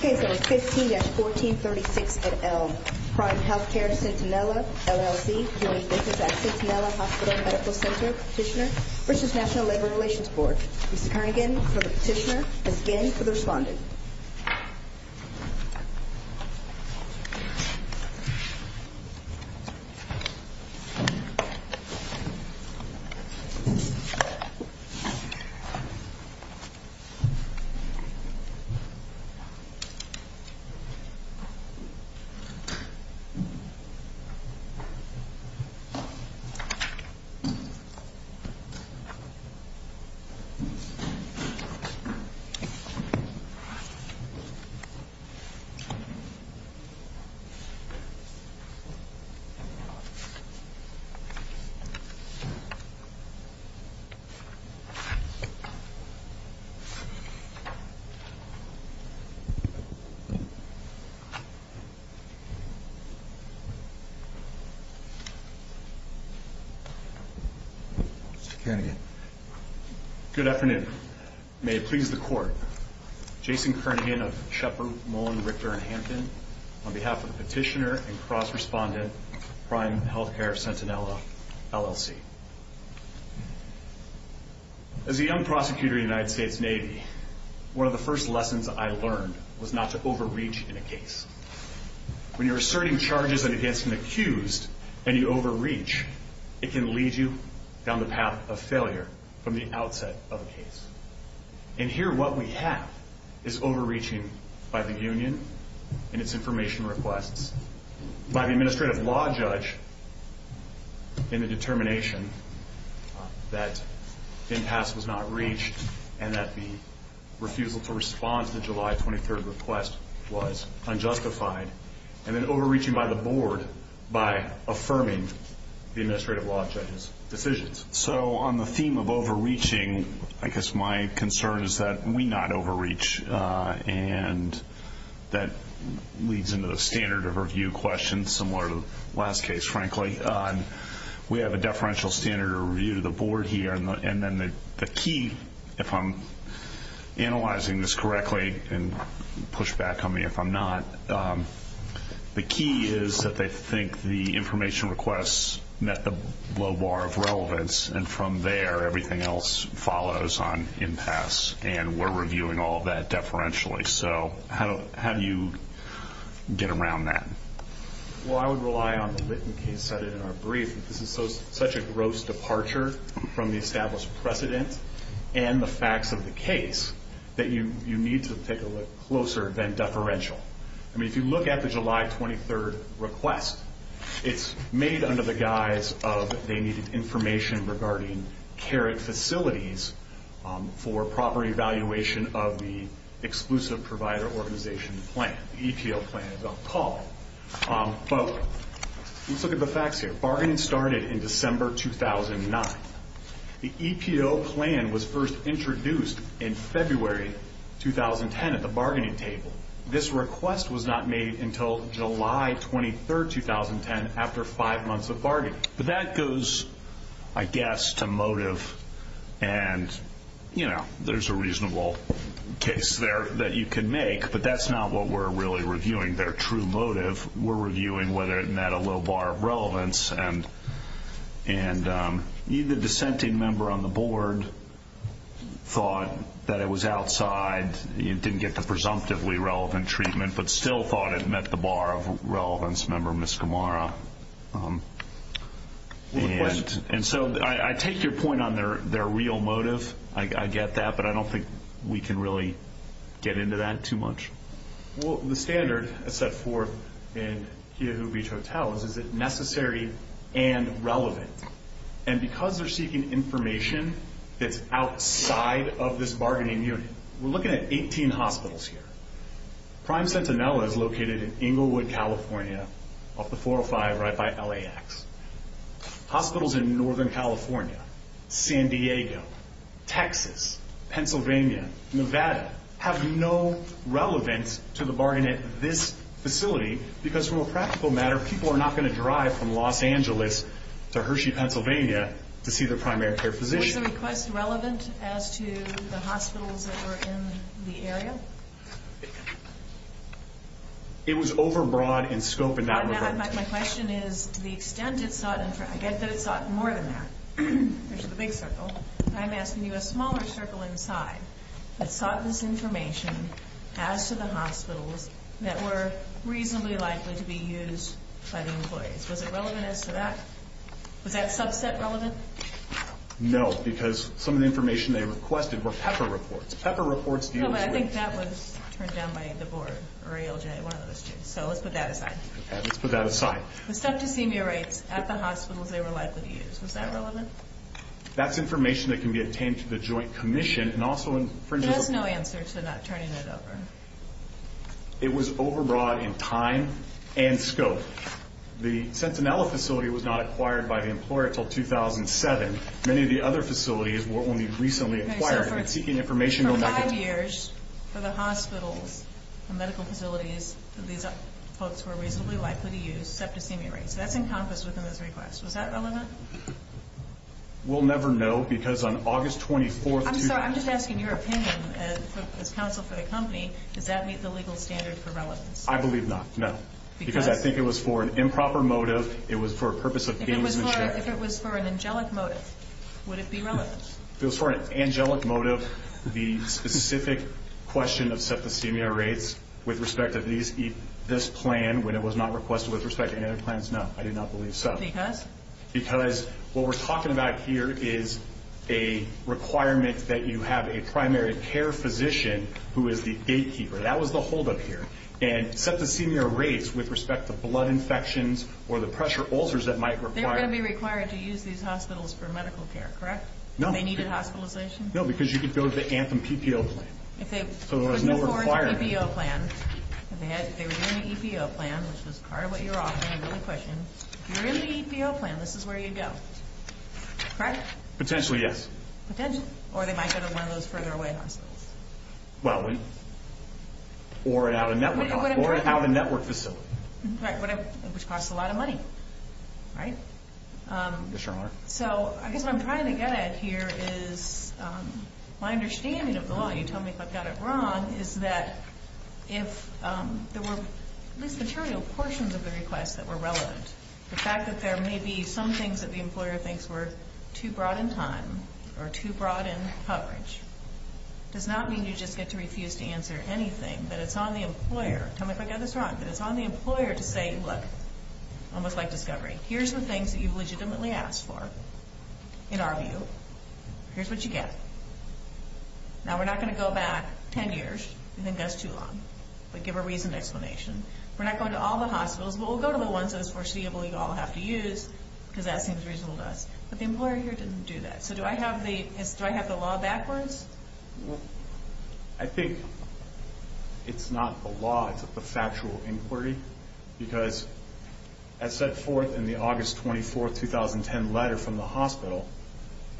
Case number 15-1436 at Elm Crime Healthcare Centinela, LLC Doing business at Centinela Hospital Medical Center Petitioner British National Labor Relations Board Mr. Kernaghan for the petitioner Ms. Ginn for the respondent Mr. Kernaghan for the respondent Mr. Kernaghan Good afternoon. May it please the Court Jason Kernaghan of Shepard, Mullen, Richter & Hampton on behalf of the petitioner and cross-respondent Crime Healthcare Centinela, LLC As a young prosecutor in the United States Navy one of the first lessons I learned was not to overreach in a case When you're asserting charges against an accused and you overreach it can lead you down the path of failure from the outset of a case And here what we have is overreaching by the union and its information requests by the administrative law judge in the determination that impasse was not reached and that the refusal to respond to the July 23rd request was unjustified and then overreaching by the board by affirming the administrative law judge's decisions So on the theme of overreaching I guess my concern is that we not overreach and that leads into the standard of review question similar to the last case, frankly We have a deferential standard of review to the board here and then the key, if I'm analyzing this correctly and push back on me if I'm not the key is that they think the information requests met the low bar of relevance and from there everything else follows on impasse and we're reviewing all that deferentially So how do you get around that? Well I would rely on the written case cited in our brief that this is such a gross departure from the established precedent and the facts of the case that you need to take a look closer than deferential I mean if you look at the July 23rd request it's made under the guise of they needed information regarding care facilities for proper evaluation of the exclusive provider organization plan the EPO plan as I'm calling it Let's look at the facts here Bargaining started in December 2009 The EPO plan was first introduced in February 2010 at the bargaining table This request was not made until July 23rd, 2010 after five months of bargaining But that goes, I guess, to motive and, you know, there's a reasonable case there that you can make but that's not what we're really reviewing We're not reviewing their true motive We're reviewing whether it met a low bar of relevance and either the dissenting member on the board thought that it was outside it didn't get the presumptively relevant treatment but still thought it met the bar of relevance member Miskimara And so I take your point on their real motive I get that but I don't think we can really get into that too much Well, the standard that's set forth in Hiyoho Beach Hotels is it necessary and relevant And because they're seeking information that's outside of this bargaining unit we're looking at 18 hospitals here Prime Sentinella is located in Englewood, California off the 405 right by LAX Hospitals in Northern California San Diego, Texas, Pennsylvania, Nevada have no relevance to the bargaining at this facility because from a practical matter people are not going to drive from Los Angeles to Hershey, Pennsylvania to see their primary care physician Was the request relevant as to the hospitals that were in the area? It was over broad in scope in that regard My question is to the extent it sought I get that it sought more than that which is a big circle I'm asking you a smaller circle inside that sought this information as to the hospitals that were reasonably likely to be used by the employees Was it relevant as to that? Was that subset relevant? No, because some of the information they requested were PEPFAR reports PEPFAR reports deal with rates No, but I think that was turned down by the board or ALJ, one of those two So let's put that aside Okay, let's put that aside The stethoscenia rates at the hospitals they were likely to use Was that relevant? That's information that can be obtained to the joint commission That's no answer to not turning it over It was over broad in time and scope The Centinella facility was not acquired by the employer until 2007 Many of the other facilities were only recently acquired For five years, for the hospitals the medical facilities these folks were reasonably likely to use stethoscenia rates That's encompassed within this request Was that relevant? We'll never know because on August 24th I'm sorry, I'm just asking your opinion as counsel for the company Does that meet the legal standard for relevance? I believe not, no Because I think it was for an improper motive It was for a purpose of gain of insurance If it was for an angelic motive would it be relevant? If it was for an angelic motive the specific question of stethoscenia rates with respect to this plan when it was not requested with respect to any other plans No, I do not believe so Because? Because what we're talking about here is a requirement that you have a primary care physician who is the gatekeeper That was the holdup here And stethoscenia rates with respect to blood infections or the pressure ulcers that might require They're going to be required to use these hospitals for medical care, correct? No Do they need a hospitalization? No, because you could go to the Anthem PPO plan So there was no requirement If they were in the EPO plan which was part of what you're offering If you're in the EPO plan this is where you go, correct? Potentially, yes Potentially? Or they might go to one of those further away hospitals Well, or an out-of-network hospital Or an out-of-network facility Which costs a lot of money, right? Yes, Your Honor So I guess what I'm trying to get at here is my understanding of the law You tell me if I've got it wrong is that if there were at least material portions of the request that were relevant the fact that there may be some things that the employer thinks were too broad in time or too broad in coverage does not mean you just get to refuse to answer anything but it's on the employer Tell me if I've got this wrong but it's on the employer to say Look, almost like discovery Here's the things that you've legitimately asked for in our view Here's what you get Now, we're not going to go back ten years We think that's too long but give a reasoned explanation We're not going to all the hospitals but we'll go to the ones that it's foreseeable you all have to use because that seems reasonable to us But the employer here didn't do that So do I have the law backwards? I think it's not the law it's the factual inquiry because as set forth in the August 24, 2010 letter from the hospital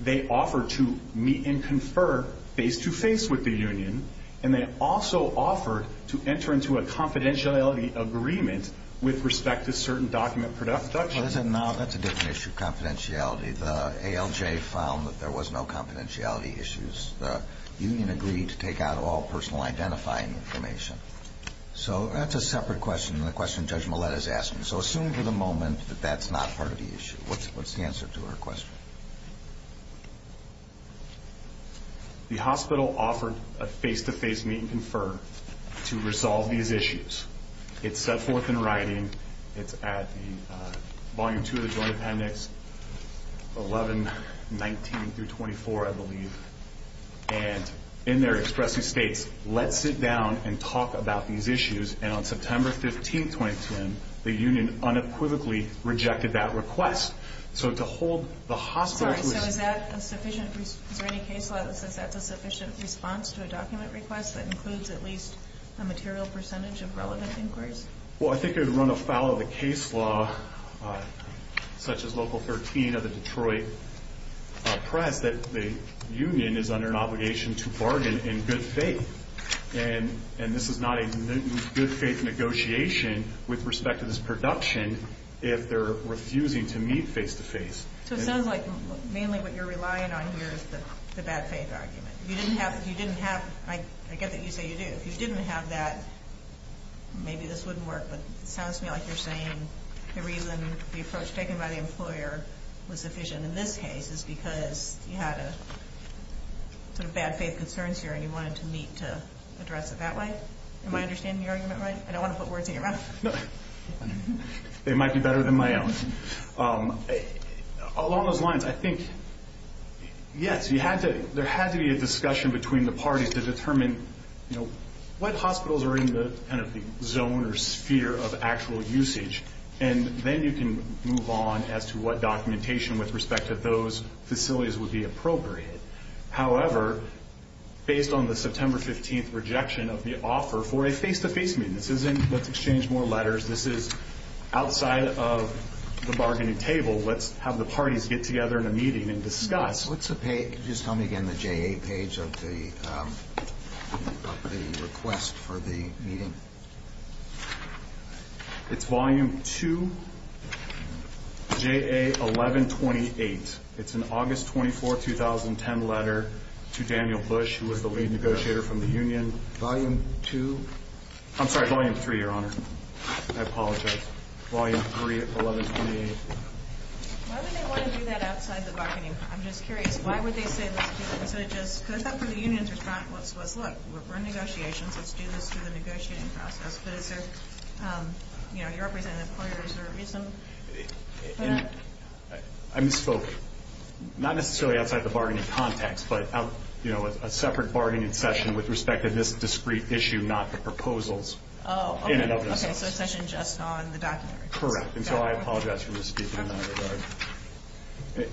they offered to meet and confer face-to-face with the union and they also offered to enter into a confidentiality agreement with respect to certain document production Now, that's a different issue confidentiality The ALJ found that there was no confidentiality issues The union agreed to take out all personal identifying information So that's a separate question than the question Judge Millett has asked me So assume for the moment that that's not part of the issue What's the answer to her question? The hospital offered a face-to-face meet and confer to resolve these issues It's set forth in writing It's at the Volume 2 of the Joint Appendix 11-19-24, I believe And in there it expresses Let's sit down and talk about these issues And on September 15, 2010 the union unequivocally rejected that request So to hold the hospital Sorry, so is that a sufficient Is there any case law that says that's a sufficient response to a document request that includes at least a material percentage of relevant inquiries? Well, I think it would run afoul of the case law such as Local 13 of the Detroit Press that the union is under an obligation to bargain in good faith And this is not a good faith negotiation with respect to this production if they're refusing to meet face-to-face So it sounds like mainly what you're relying on here is the bad faith argument You didn't have I get that you say you do If you didn't have that maybe this wouldn't work But it sounds to me like you're saying the reason the approach taken by the employer was sufficient in this case is because you had a sort of bad faith concerns here and you wanted to meet to address it that way Am I understanding the argument right? I don't want to put words in your mouth They might be better than my own Along those lines I think, yes you had to There had to be a discussion between the parties to determine what hospitals are in the kind of zone or sphere of actual usage and then you can move on as to what documentation with respect to those facilities would be appropriate However, based on the September 15th rejection of the offer for a face-to-face meeting This isn't let's exchange more letters This is outside of the bargaining table Let's have the parties get together in a meeting and discuss What's the page? Just tell me again It's on the JA page of the request for the meeting It's volume 2 JA 1128 It's an August 24, 2010 letter to Daniel Bush who was the lead negotiator from the union Volume 2? I'm sorry, volume 3, Your Honor I apologize Volume 3, 1128 Why would they want to do that outside the bargaining? I'm just curious Why would they say let's do this? Because I thought the union's response was Look, we're in negotiations Let's do this through the negotiating process But is there You're representing employers Is there a reason for that? I misspoke Not necessarily outside the bargaining context but a separate bargaining session with respect to this discrete issue not the proposals Oh, okay So a session just on the documentary Correct And so I apologize for misspeaking in that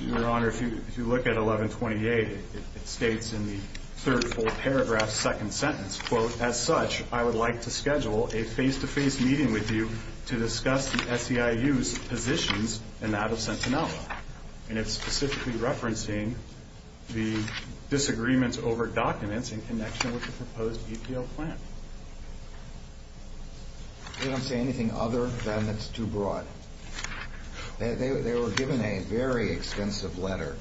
regard Your Honor, if you look at 1128 it states in the third full paragraph second sentence Quote As such I would like to schedule a face-to-face meeting with you to discuss the SEIU's positions and that of Sentinella And it's specifically referencing the disagreements over documents in connection with the proposed EPO plan They don't say anything other than it's too broad They were given a very extensive letter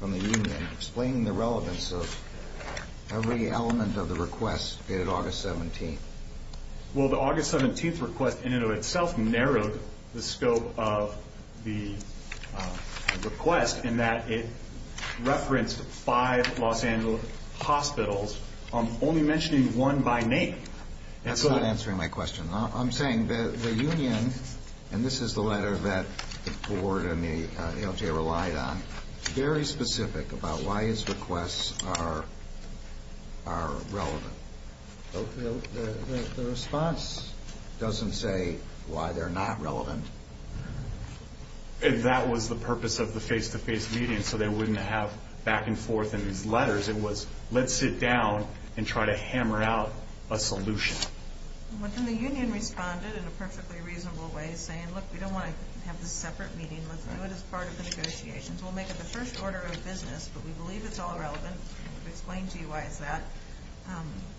from the union explaining the relevance of every element of the request dated August 17th Well the August 17th request in and of itself narrowed the scope of the request in that it referenced five Los Angeles hospitals only mentioning one by name That's not answering my question I'm saying that the union and this is the letter that the board and the LGA relied on very specific about why its requests are relevant The response doesn't say why they're not relevant That was the purpose of the face-to-face meeting so they wouldn't have back and forth in these letters It was let's sit down and try to hammer out a solution And the union responded in a perfectly reasonable way saying look we don't want to have this separate meeting Let's do it as part of the negotiations We'll make it the first order of business But we believe it's all relevant We've explained to you why it's that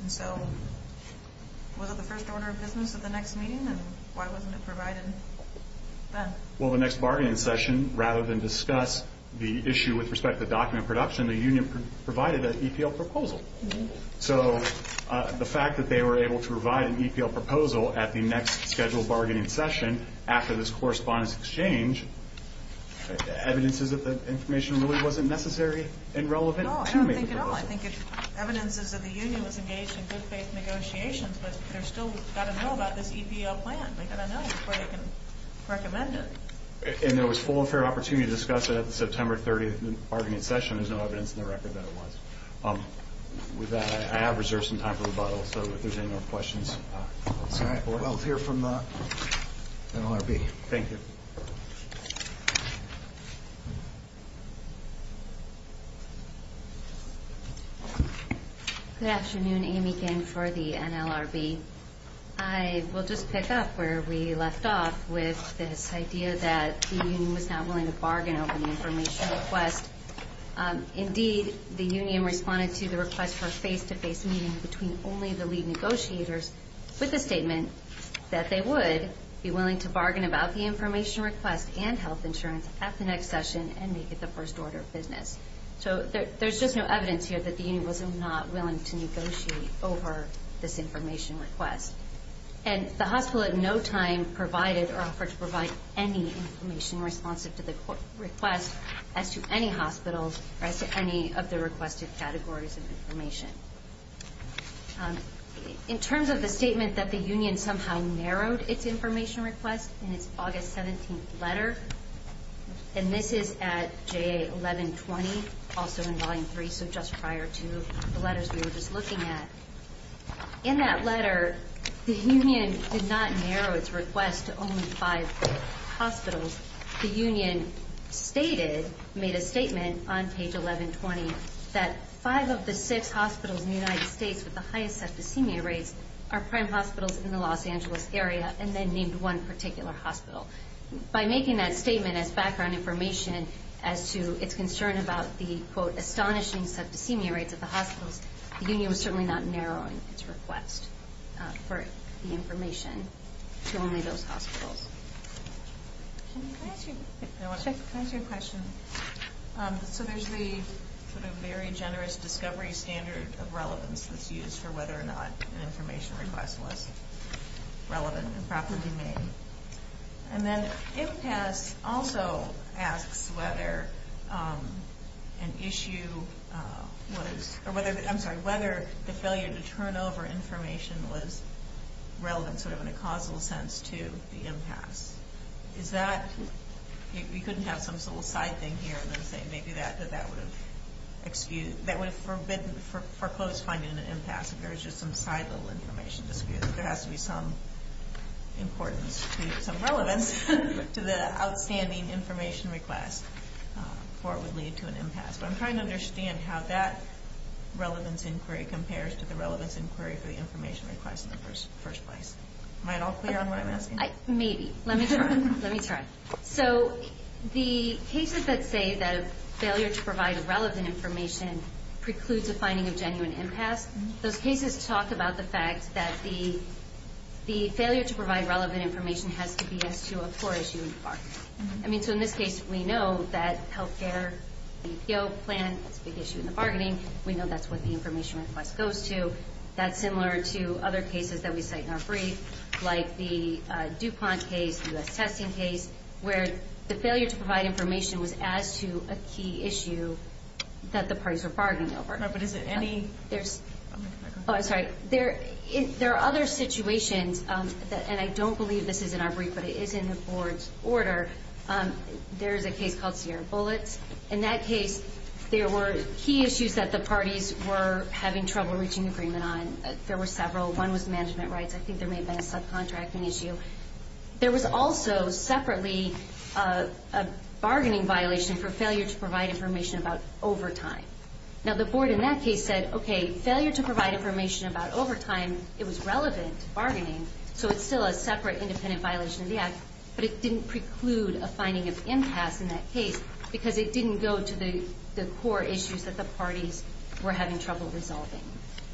And so was it the first order of business of the next meeting and why wasn't it provided then? Well the next bargaining session rather than discuss the issue with respect to document production the union provided an EPL proposal So the fact that they were able to provide an EPL proposal at the next scheduled bargaining session after this correspondence exchange evidence is that the information really wasn't necessary and relevant No I don't think at all I think evidence is that the union was engaged in good faith negotiations but they've still got to know about this EPL plan They've got to know before they can recommend it And there was full and fair opportunity to discuss it at the September 30th bargaining session There's no evidence in the record that it was With that I have reserved some time for rebuttal So if there's any more questions Sorry We'll hear from the NLRB Thank you Good afternoon Amy Ginn for the NLRB I will just pick up where we left off with this idea that the union was not willing to bargain over the information request Indeed the union responded to the request for a face to face meeting between only the lead negotiators with the statement that they would be willing to bargain about the information request and health insurance at the next session and make it the first order of business So there's just no evidence here that the union was not willing to negotiate over this information request And the hospital at no time provided or offered to provide any information responsive to the request as to any hospitals or as to any of the requested categories of information In terms of the statement that the union somehow narrowed its information request in its August 17th letter and this is at JA 1120 also in volume 3 so just prior to the letters we were just looking at In that letter the union did not narrow its request to only five hospitals The union stated made a statement on page 1120 that five of the six hospitals in the United States with the highest septicemia rates are prime hospitals in the Los Angeles area and then named one particular hospital By making that statement as background information as to its concern about the quote astonishing septicemia rates at the hospitals the union was certainly not narrowing its request for the information to only those hospitals Can I ask you a question? So there's the sort of very generous discovery standard of relevance that's used for whether or not an information request was relevant and properly made And then impasse also asks whether an issue was I'm sorry whether the failure to turn over information was relevant sort of in a causal sense to the impasse Is that you couldn't have some little side thing here and then say maybe that would excuse that would have forbidden foreclosed finding an impasse if there was just some side little information dispute There has to be some importance to some relevance to the outstanding information request before it would lead to an impasse But I'm trying to understand how that relevance inquiry compares to the relevance inquiry for the information request in the first place Am I at all clear on what I'm asking? Maybe. Let me try. So the cases that say that failure to provide relevant information precludes a finding of genuine impasse Those cases talk about the fact that the failure to provide relevant information has to be as to a core issue in the bargaining So in this case we know that health care plan is a big issue and that the failure to provide information was as to a key issue that the parties were bargaining over There are other situations and I don't believe this is in our brief but it is in the board's order There is a case called Sierra Bullets In that case there were key issues that the parties were having trouble reaching agreement on There were several One was management rights I think there may have been a subcontracting issue There was also separately a bargaining violation for failure to provide information about overtime Now the board in that case said failure to provide information about overtime it was relevant to bargaining so it is still a separate independent violation of impasse in that case because it didn't go to the core issues that the parties were having trouble resolving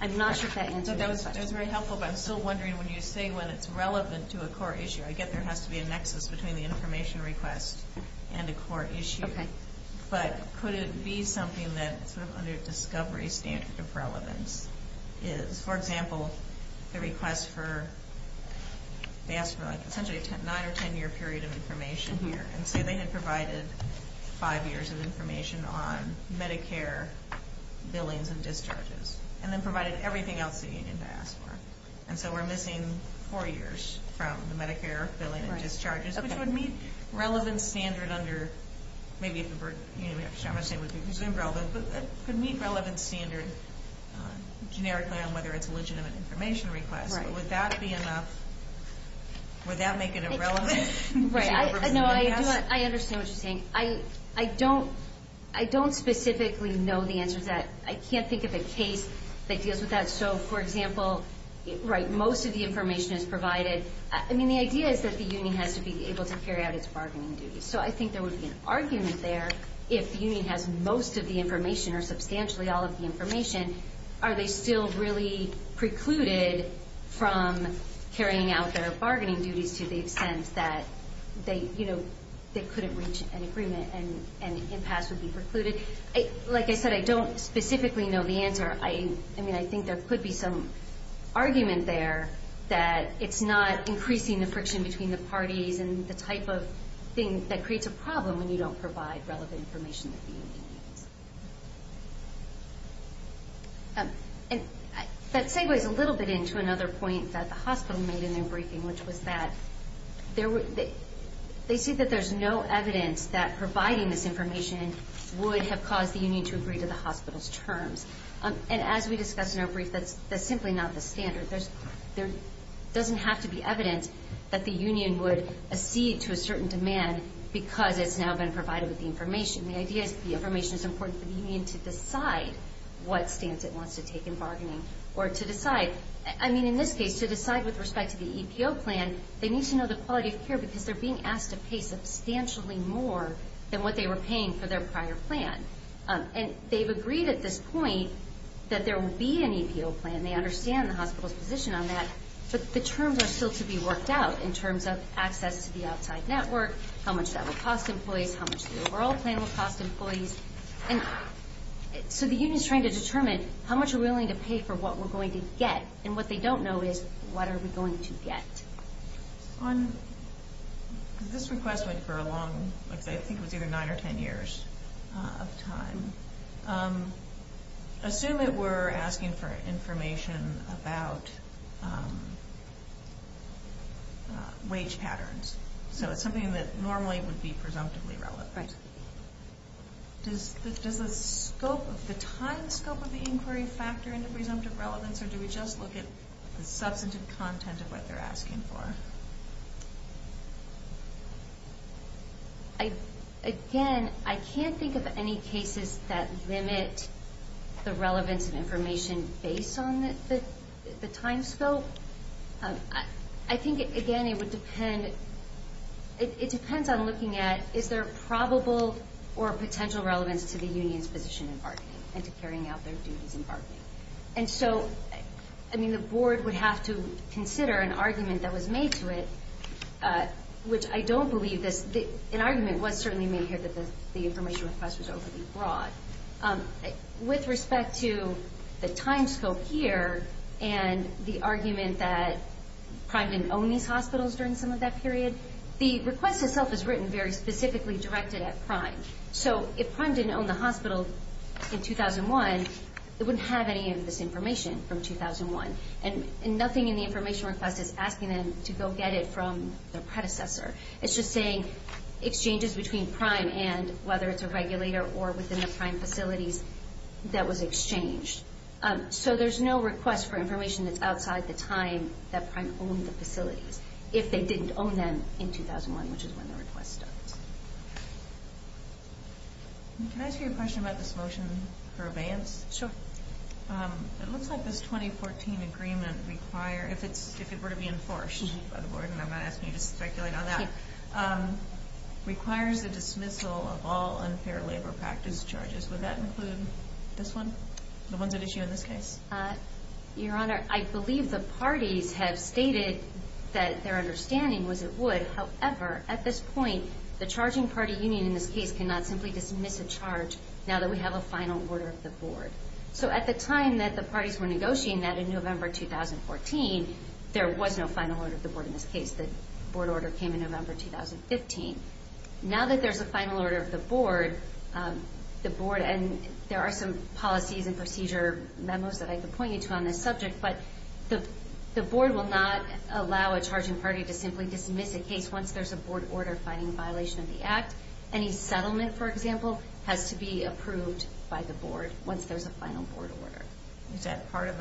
I'm not sure if that answers your question I'm still wondering when you say when it is relevant to a core issue I get there has to be a nexus between the information request and a core issue but could it be something under discovery standard of relevance for example the request for nine or ten year period of information they had provided five years of information on Medicare billings and discharges and then provided everything else we are missing four years from Medicare billings and discharges which would meet relevance standard generic whether it is legitimate information request would that be enough would that make it irrelevant I understand what you are saying I don't specifically know the answer to that I can't think of a case that deals with that most of the time the union has to be able to carry out its bargaining duties so I think there would be an argument there if the union has most of the information or substantially all of the information are they still really precluded from carrying out their bargaining duties to the extent that they couldn't reach an agreement like I said I don't specifically know the answer I think there could be some argument there that it is not increasing the friction between the parties and the type of bargaining that creates a problem don't provide relevant information that the union needs. That segues a little bit into another point that the hospital made in their briefing which was that they see that there is no evidence that providing this information would have caused the union to agree to the hospital's terms. And as we discussed in our brief, that's simply not the standard. There doesn't have to be evidence that the union would accede to a certain demand because it's now been provided with the information. The idea is that they're being asked to pay substantially more than what they were paying for their prior plan. And they've agreed at this point that there will be an EPO plan. They understand the hospital's position on that, but the terms are still to be worked out in terms of access to the outside network, how much that will cost employees, how much the overall plan will cost employees. So the union is trying to determine how much we're willing to pay for what we're going to get. And what they don't know is what are we going to get. This request went for a long, I think it was either nine or 12 years. asking for a plan that would be presumptively relevant. Does the time scope of the inquiry factor into presumptive relevance or do we just look at the substantive content of what they're asking for? Again, I can't think of any cases that limit the relevance of information based on the time scope. I think, again, it depends on looking at is there probable or potential relevance to the union's position in bargaining and to carrying out their duties in bargaining. The board would have to consider an argument that was made to it, which I don't believe this. An argument was certainly made here that the information request was overly broad. With respect to the time scope here and the argument that Prime didn't own these hospitals during some of that period, the request itself is written very specifically directed at Prime. So if Prime didn't own the hospital in 2001, it wouldn't have any of this information from 2001. And nothing in the information request is asking them to go get it from their predecessor. It's just saying exchanges between Prime and whether it's a regulator or within the Prime facilities that was exchanged. So there's no request for information that's outside the time that Prime owned the facilities if they didn't own them in 2001, which is when the request started. Can I ask you a question about this motion for abeyance? Sure. It looks like this 2014 agreement requires if it were to be enforced by the board, and I'm not asking you to speculate on that, requires a dismissal of all unfair labor practice charges. Would that include this one, the ones at issue in this case? Your Honor, I believe the parties have stated that their understanding was it would. However, at this point, the charging party union in this case cannot simply dismiss a charge now that we have a final order of the board. So at the time that the parties were negotiating that in November 2014, there was no final order of the board in this case. The board order came in November 2015. Now that there's a final order of the board, and there are some policies and procedure memos that I can point you to on this subject, but the board will not allow a charging party to simply dismiss a case once there's a board order finding a violation of the act. Any settlement, for example, has to be approved by the board once there's a final board order. Is that part of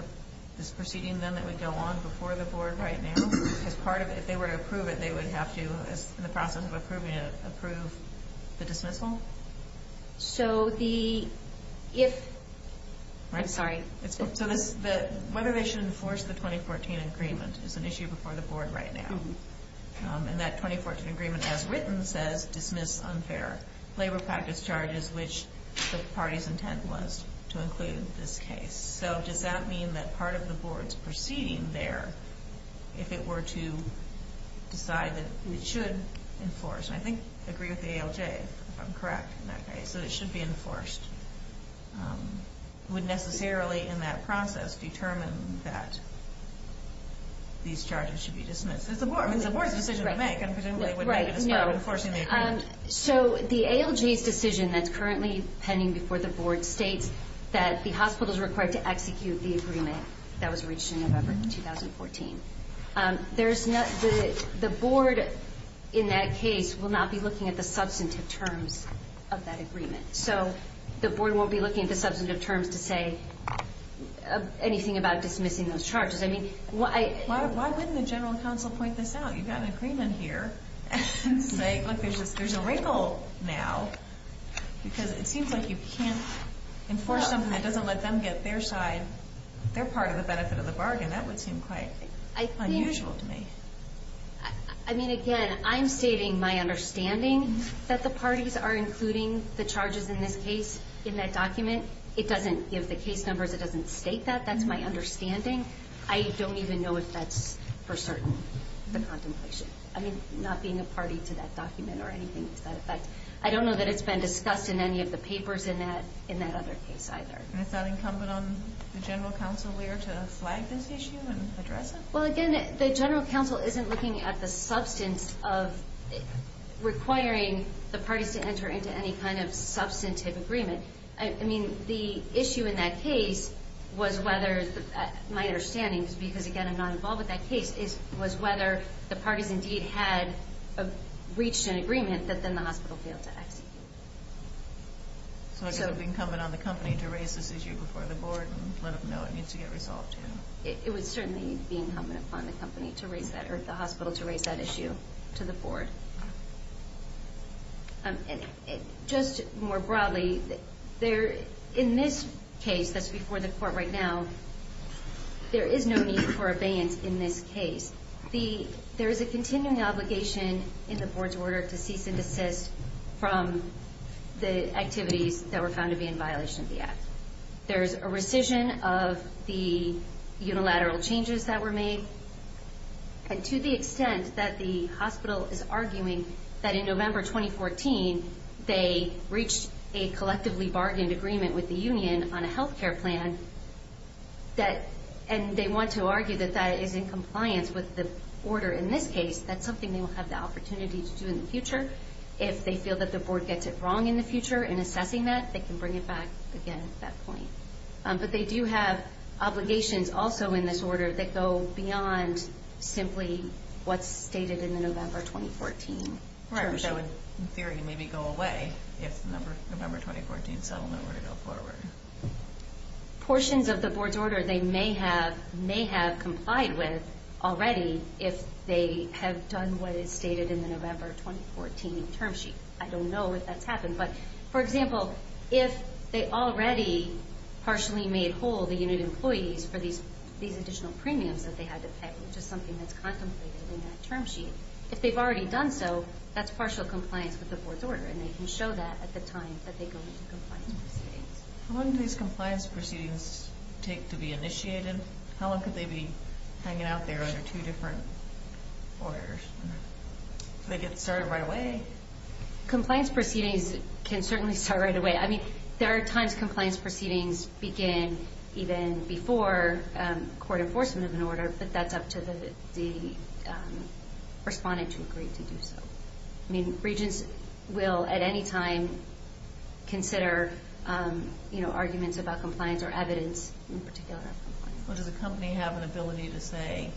this proceeding then that would go on before the board right now? If they were to approve it, they would have to, in the process of approving it, approve the dismissal? So the... If... I'm sorry. So whether they should enforce the 2014 agreement is an issue before the board right now. And that 2014 agreement as written says dismiss unfair labor practice charges which the party's intent was to include this case. So does that mean that part of the board's proceeding there, if it were to decide that it should enforce, and I think I agree with the ALJ if I'm correct in that case, that it should be enforced, would necessarily in that process determine that these charges should be dismissed? Because the board is the decision to make and presumably would make it as part of enforcing the agreement. So the ALJ's decision that's currently pending before the board states that the hospital is required to execute the agreement that was reached in November 2014. The board in that case will not be looking at the substantive terms of that agreement. So the board won't be looking at the substantive terms to say anything about dismissing those charges. I mean, why wouldn't the general council point this out? You've got an agreement here. And say, look, there's a wrinkle now because it seems like you can't enforce something that doesn't let them get their side. They're part of the benefit of the bargain. That would seem quite unusual to me. I mean, again, I'm stating my understanding that the parties are including the charges in this case in that document. It doesn't give the case numbers. It doesn't state that. That's my understanding. I don't even know if that's for certain, the contemplation. I mean, not being a party to that document or anything to that effect. I don't know that it's been discussed in any of the papers in that other case either. Is that incumbent on the general council leader to flag this issue and address it? Well, again, the general council isn't looking at the substance of requiring the parties to enter into any kind of substantive agreement. I mean, the issue in that case was whether, my understanding is because, again, I'm not involved in that case, was whether the parties indeed had reached an agreement that then the hospital failed to execute. So it's incumbent on the company to raise this issue before the board and let them know it needs to get resolved. It was certainly being incumbent upon the hospital to raise that issue to the board. Just more broadly, in this case that's before the court right now, there is no need for abeyance in this case. There is a continuing obligation in the board's order to cease and desist from the activities that were found to be in violation of the unilateral changes that were made. And to the extent that the hospital is arguing that in November 2014 they reached a collectively bargained agreement with the union on a health care plan, and they want to argue that that is in compliance with the order in this case, that's something they will have the opportunity to do in the future. If they feel that the board has obligations also in this order that go beyond simply what's stated in the November 2014 term sheet. Right, which in theory would maybe go away if the November 2014 settlement were to go forward. Portions of the board's order they may have complied with already if they have done what is stated in the November 2014 term sheet. I don't know if that's happened, but for example, if they already partially made whole the unit employees for these additional premiums that they had to pay, which is something that's contemplated in that term sheet, if they've already done so, that's partial compliance with the board's order and they can show that at the time that they go into compliance proceedings. How long do these compliance proceedings take to be initiated? How long could they be hanging out there under two different orders? Do they get started right away? Compliance proceedings can certainly start right away. There are times compliance proceedings begin even before court enforcement of an order, but that's up to the respondent to Regents will at any time consider arguments about compliance or evidence in particular. Does a company have an ability to say,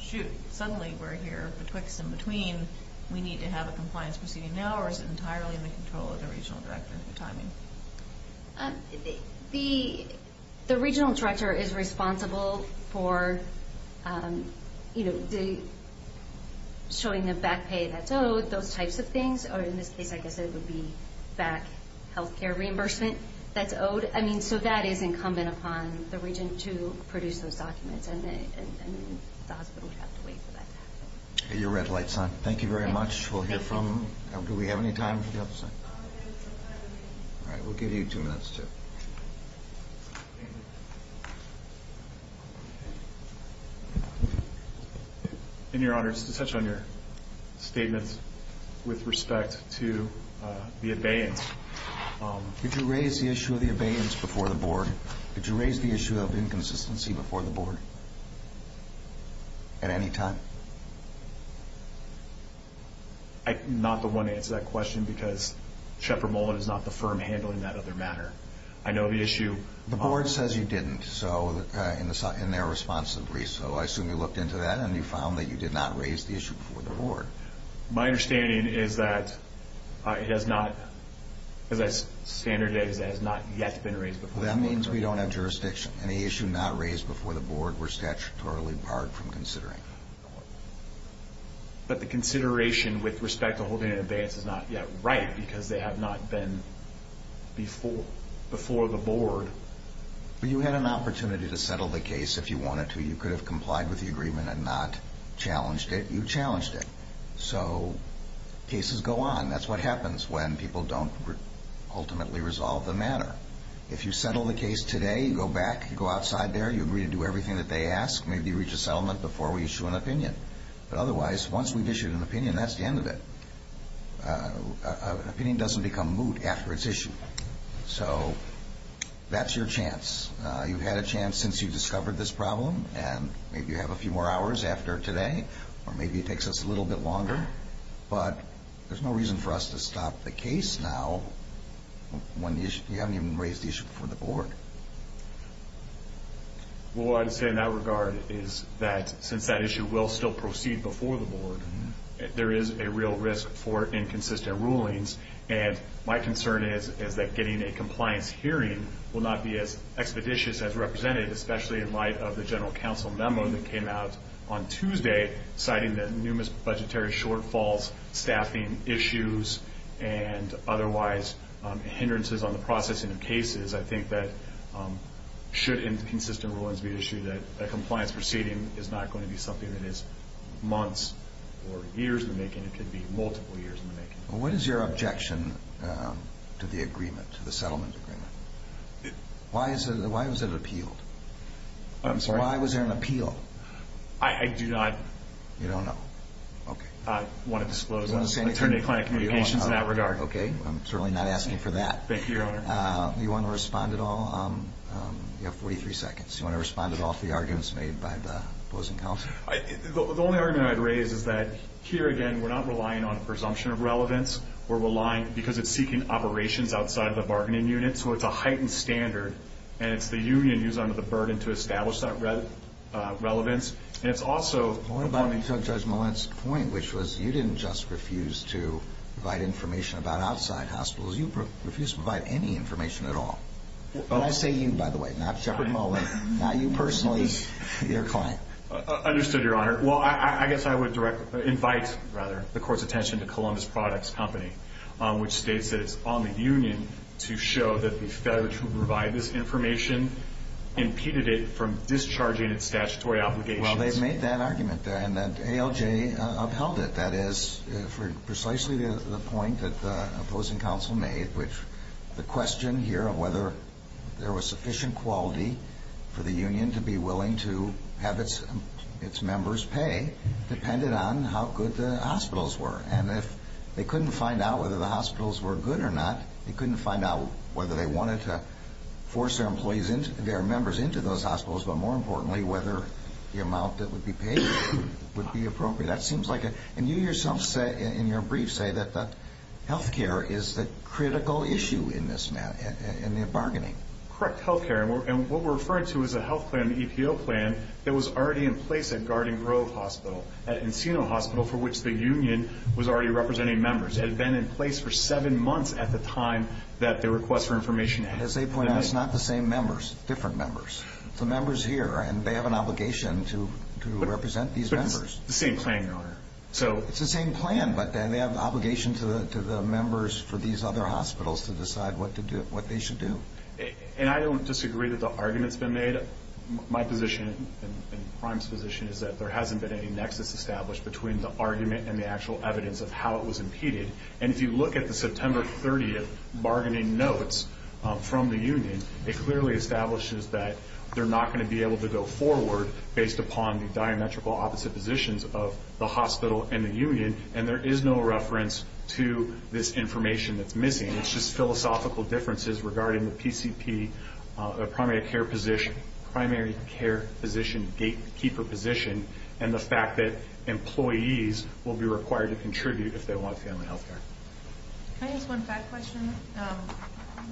shoot, I'm going to be sued? Suddenly we're here betwixt and between. We need to have a compliance proceeding now or is it entirely in the control of the regional director? The regional director is responsible for showing the back pay that's owed, those types of things, or in this case it would be back health care reimbursement that's owed. So that is incumbent upon the Regent to produce those documents and then the hospital would have to wait for that to happen. Your red light's on. Thank you very much. Do we have any time for the other side? We'll give you two minutes. In your honor, just to touch on your statements with respect to the abeyance. Could you raise the issue of the abeyance before the board? Could you raise the issue of inconsistency before the board at any time? I'm not the one to answer that question because Shepard Mullen is not the firm handling that other matter. I know the issue... The board says you didn't in their response to the brief. So I assume you looked into that and you found that you did not raise the issue before the board. My understanding is that it has not yet been raised before the board. That means we don't have jurisdiction. Any issue not raised before the board were statutorily barred from considering. But the consideration with respect to holding an abeyance is not yet right because they have not been before the board. But you had an opportunity to settle the case if you wanted to. You could have complied with the agreement and not challenged it. You challenged it. So cases go on. That's what happens when people don't ultimately resolve the matter. If you settle the case today, you go back, you go outside there, you agree to do everything they ask, maybe reach a settlement before we issue an opinion. Otherwise, once we issue an opinion, that's the end of it. An opinion doesn't become moot after it's issued. So that's your chance. You've had a chance since you discovered this problem and maybe you have a few more minutes. ask you about the issue before the board. Since that issue will still proceed before the board, there is a real risk for inconsistent rulings. My concern is that getting a compliance hearing will not be as expeditious as represented, especially in light of the general council memo that came out on Tuesday citing the general council memo. Should inconsistent rulings be issued, a proceeding is not going to be something that is months or years in the making. It could be multiple years in the making. What is your objection to the settlement agreement? Why was it appealed? Why was there an appeal? I do not want to disclose anything. I am certainly not asking for that. Do you want to respond at all? You have 43 seconds. Do you want to respond at all to the arguments made by the opposing council? The only argument I would raise is that here again we are not relying on presumption of relevance. We are relying because it is seeking operations outside of the bargaining unit. It is a heightened standard. It is the union who is under the burden to establish that relevance. You did not just refuse to provide information about outside hospitals. You refused to provide any information at all. I say you by the way. Not you personally. Your client. I guess I would invite the court's attention to Columbus Products Company which states it is on the union to show that the failure to provide this information impeded it from discharging its statutory obligations. Well, they made that argument and ALJ upheld it. That is precisely the point that the opposing council made which the question here of whether there was sufficient quality for the union to be willing to have its members pay depended on how good the hospitals were. And if they couldn't find out whether the hospitals were good or not, they couldn't find out whether they wanted to force their members into those hospitals but more importantly whether the amount that would be paid would be appropriate. And you yourself in your brief say that health care is a critical issue in bargaining. Correct. Health care. And what we're referring to is a health plan, an EPO plan that was already in place at Garden Grove Hospital, at Encino Hospital for which the union was already representing members. It had been in place for seven months at the time that the request for information had been made. As they point out, it's not the same members, different members. It's the members here and they have an obligation to represent these members. But it's the same plan. It's the same plan but they have an obligation to the members for these other benefits. when you look at the bargaining notes from the union, it clearly establishes that they're not going to be able to based upon the diametrical opposite positions of the hospital and the union. And there is no reference to this information that's missing. It's just philosophical differences regarding the primary care position and the fact that employees will be required to contribute if they want family health care.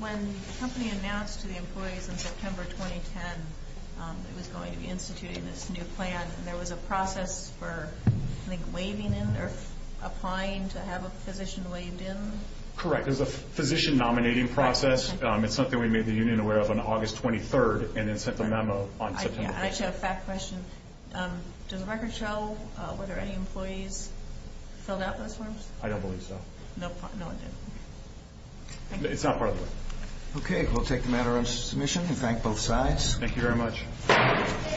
When the company announced in September 2010 there was a process for physician nominating process. It's something we made the union aware of on August 23rd. Does the record show whether any employees filled out those forms? I don't believe so. Okay. We'll take the matter into submission. We thank both sides. Thank you very much.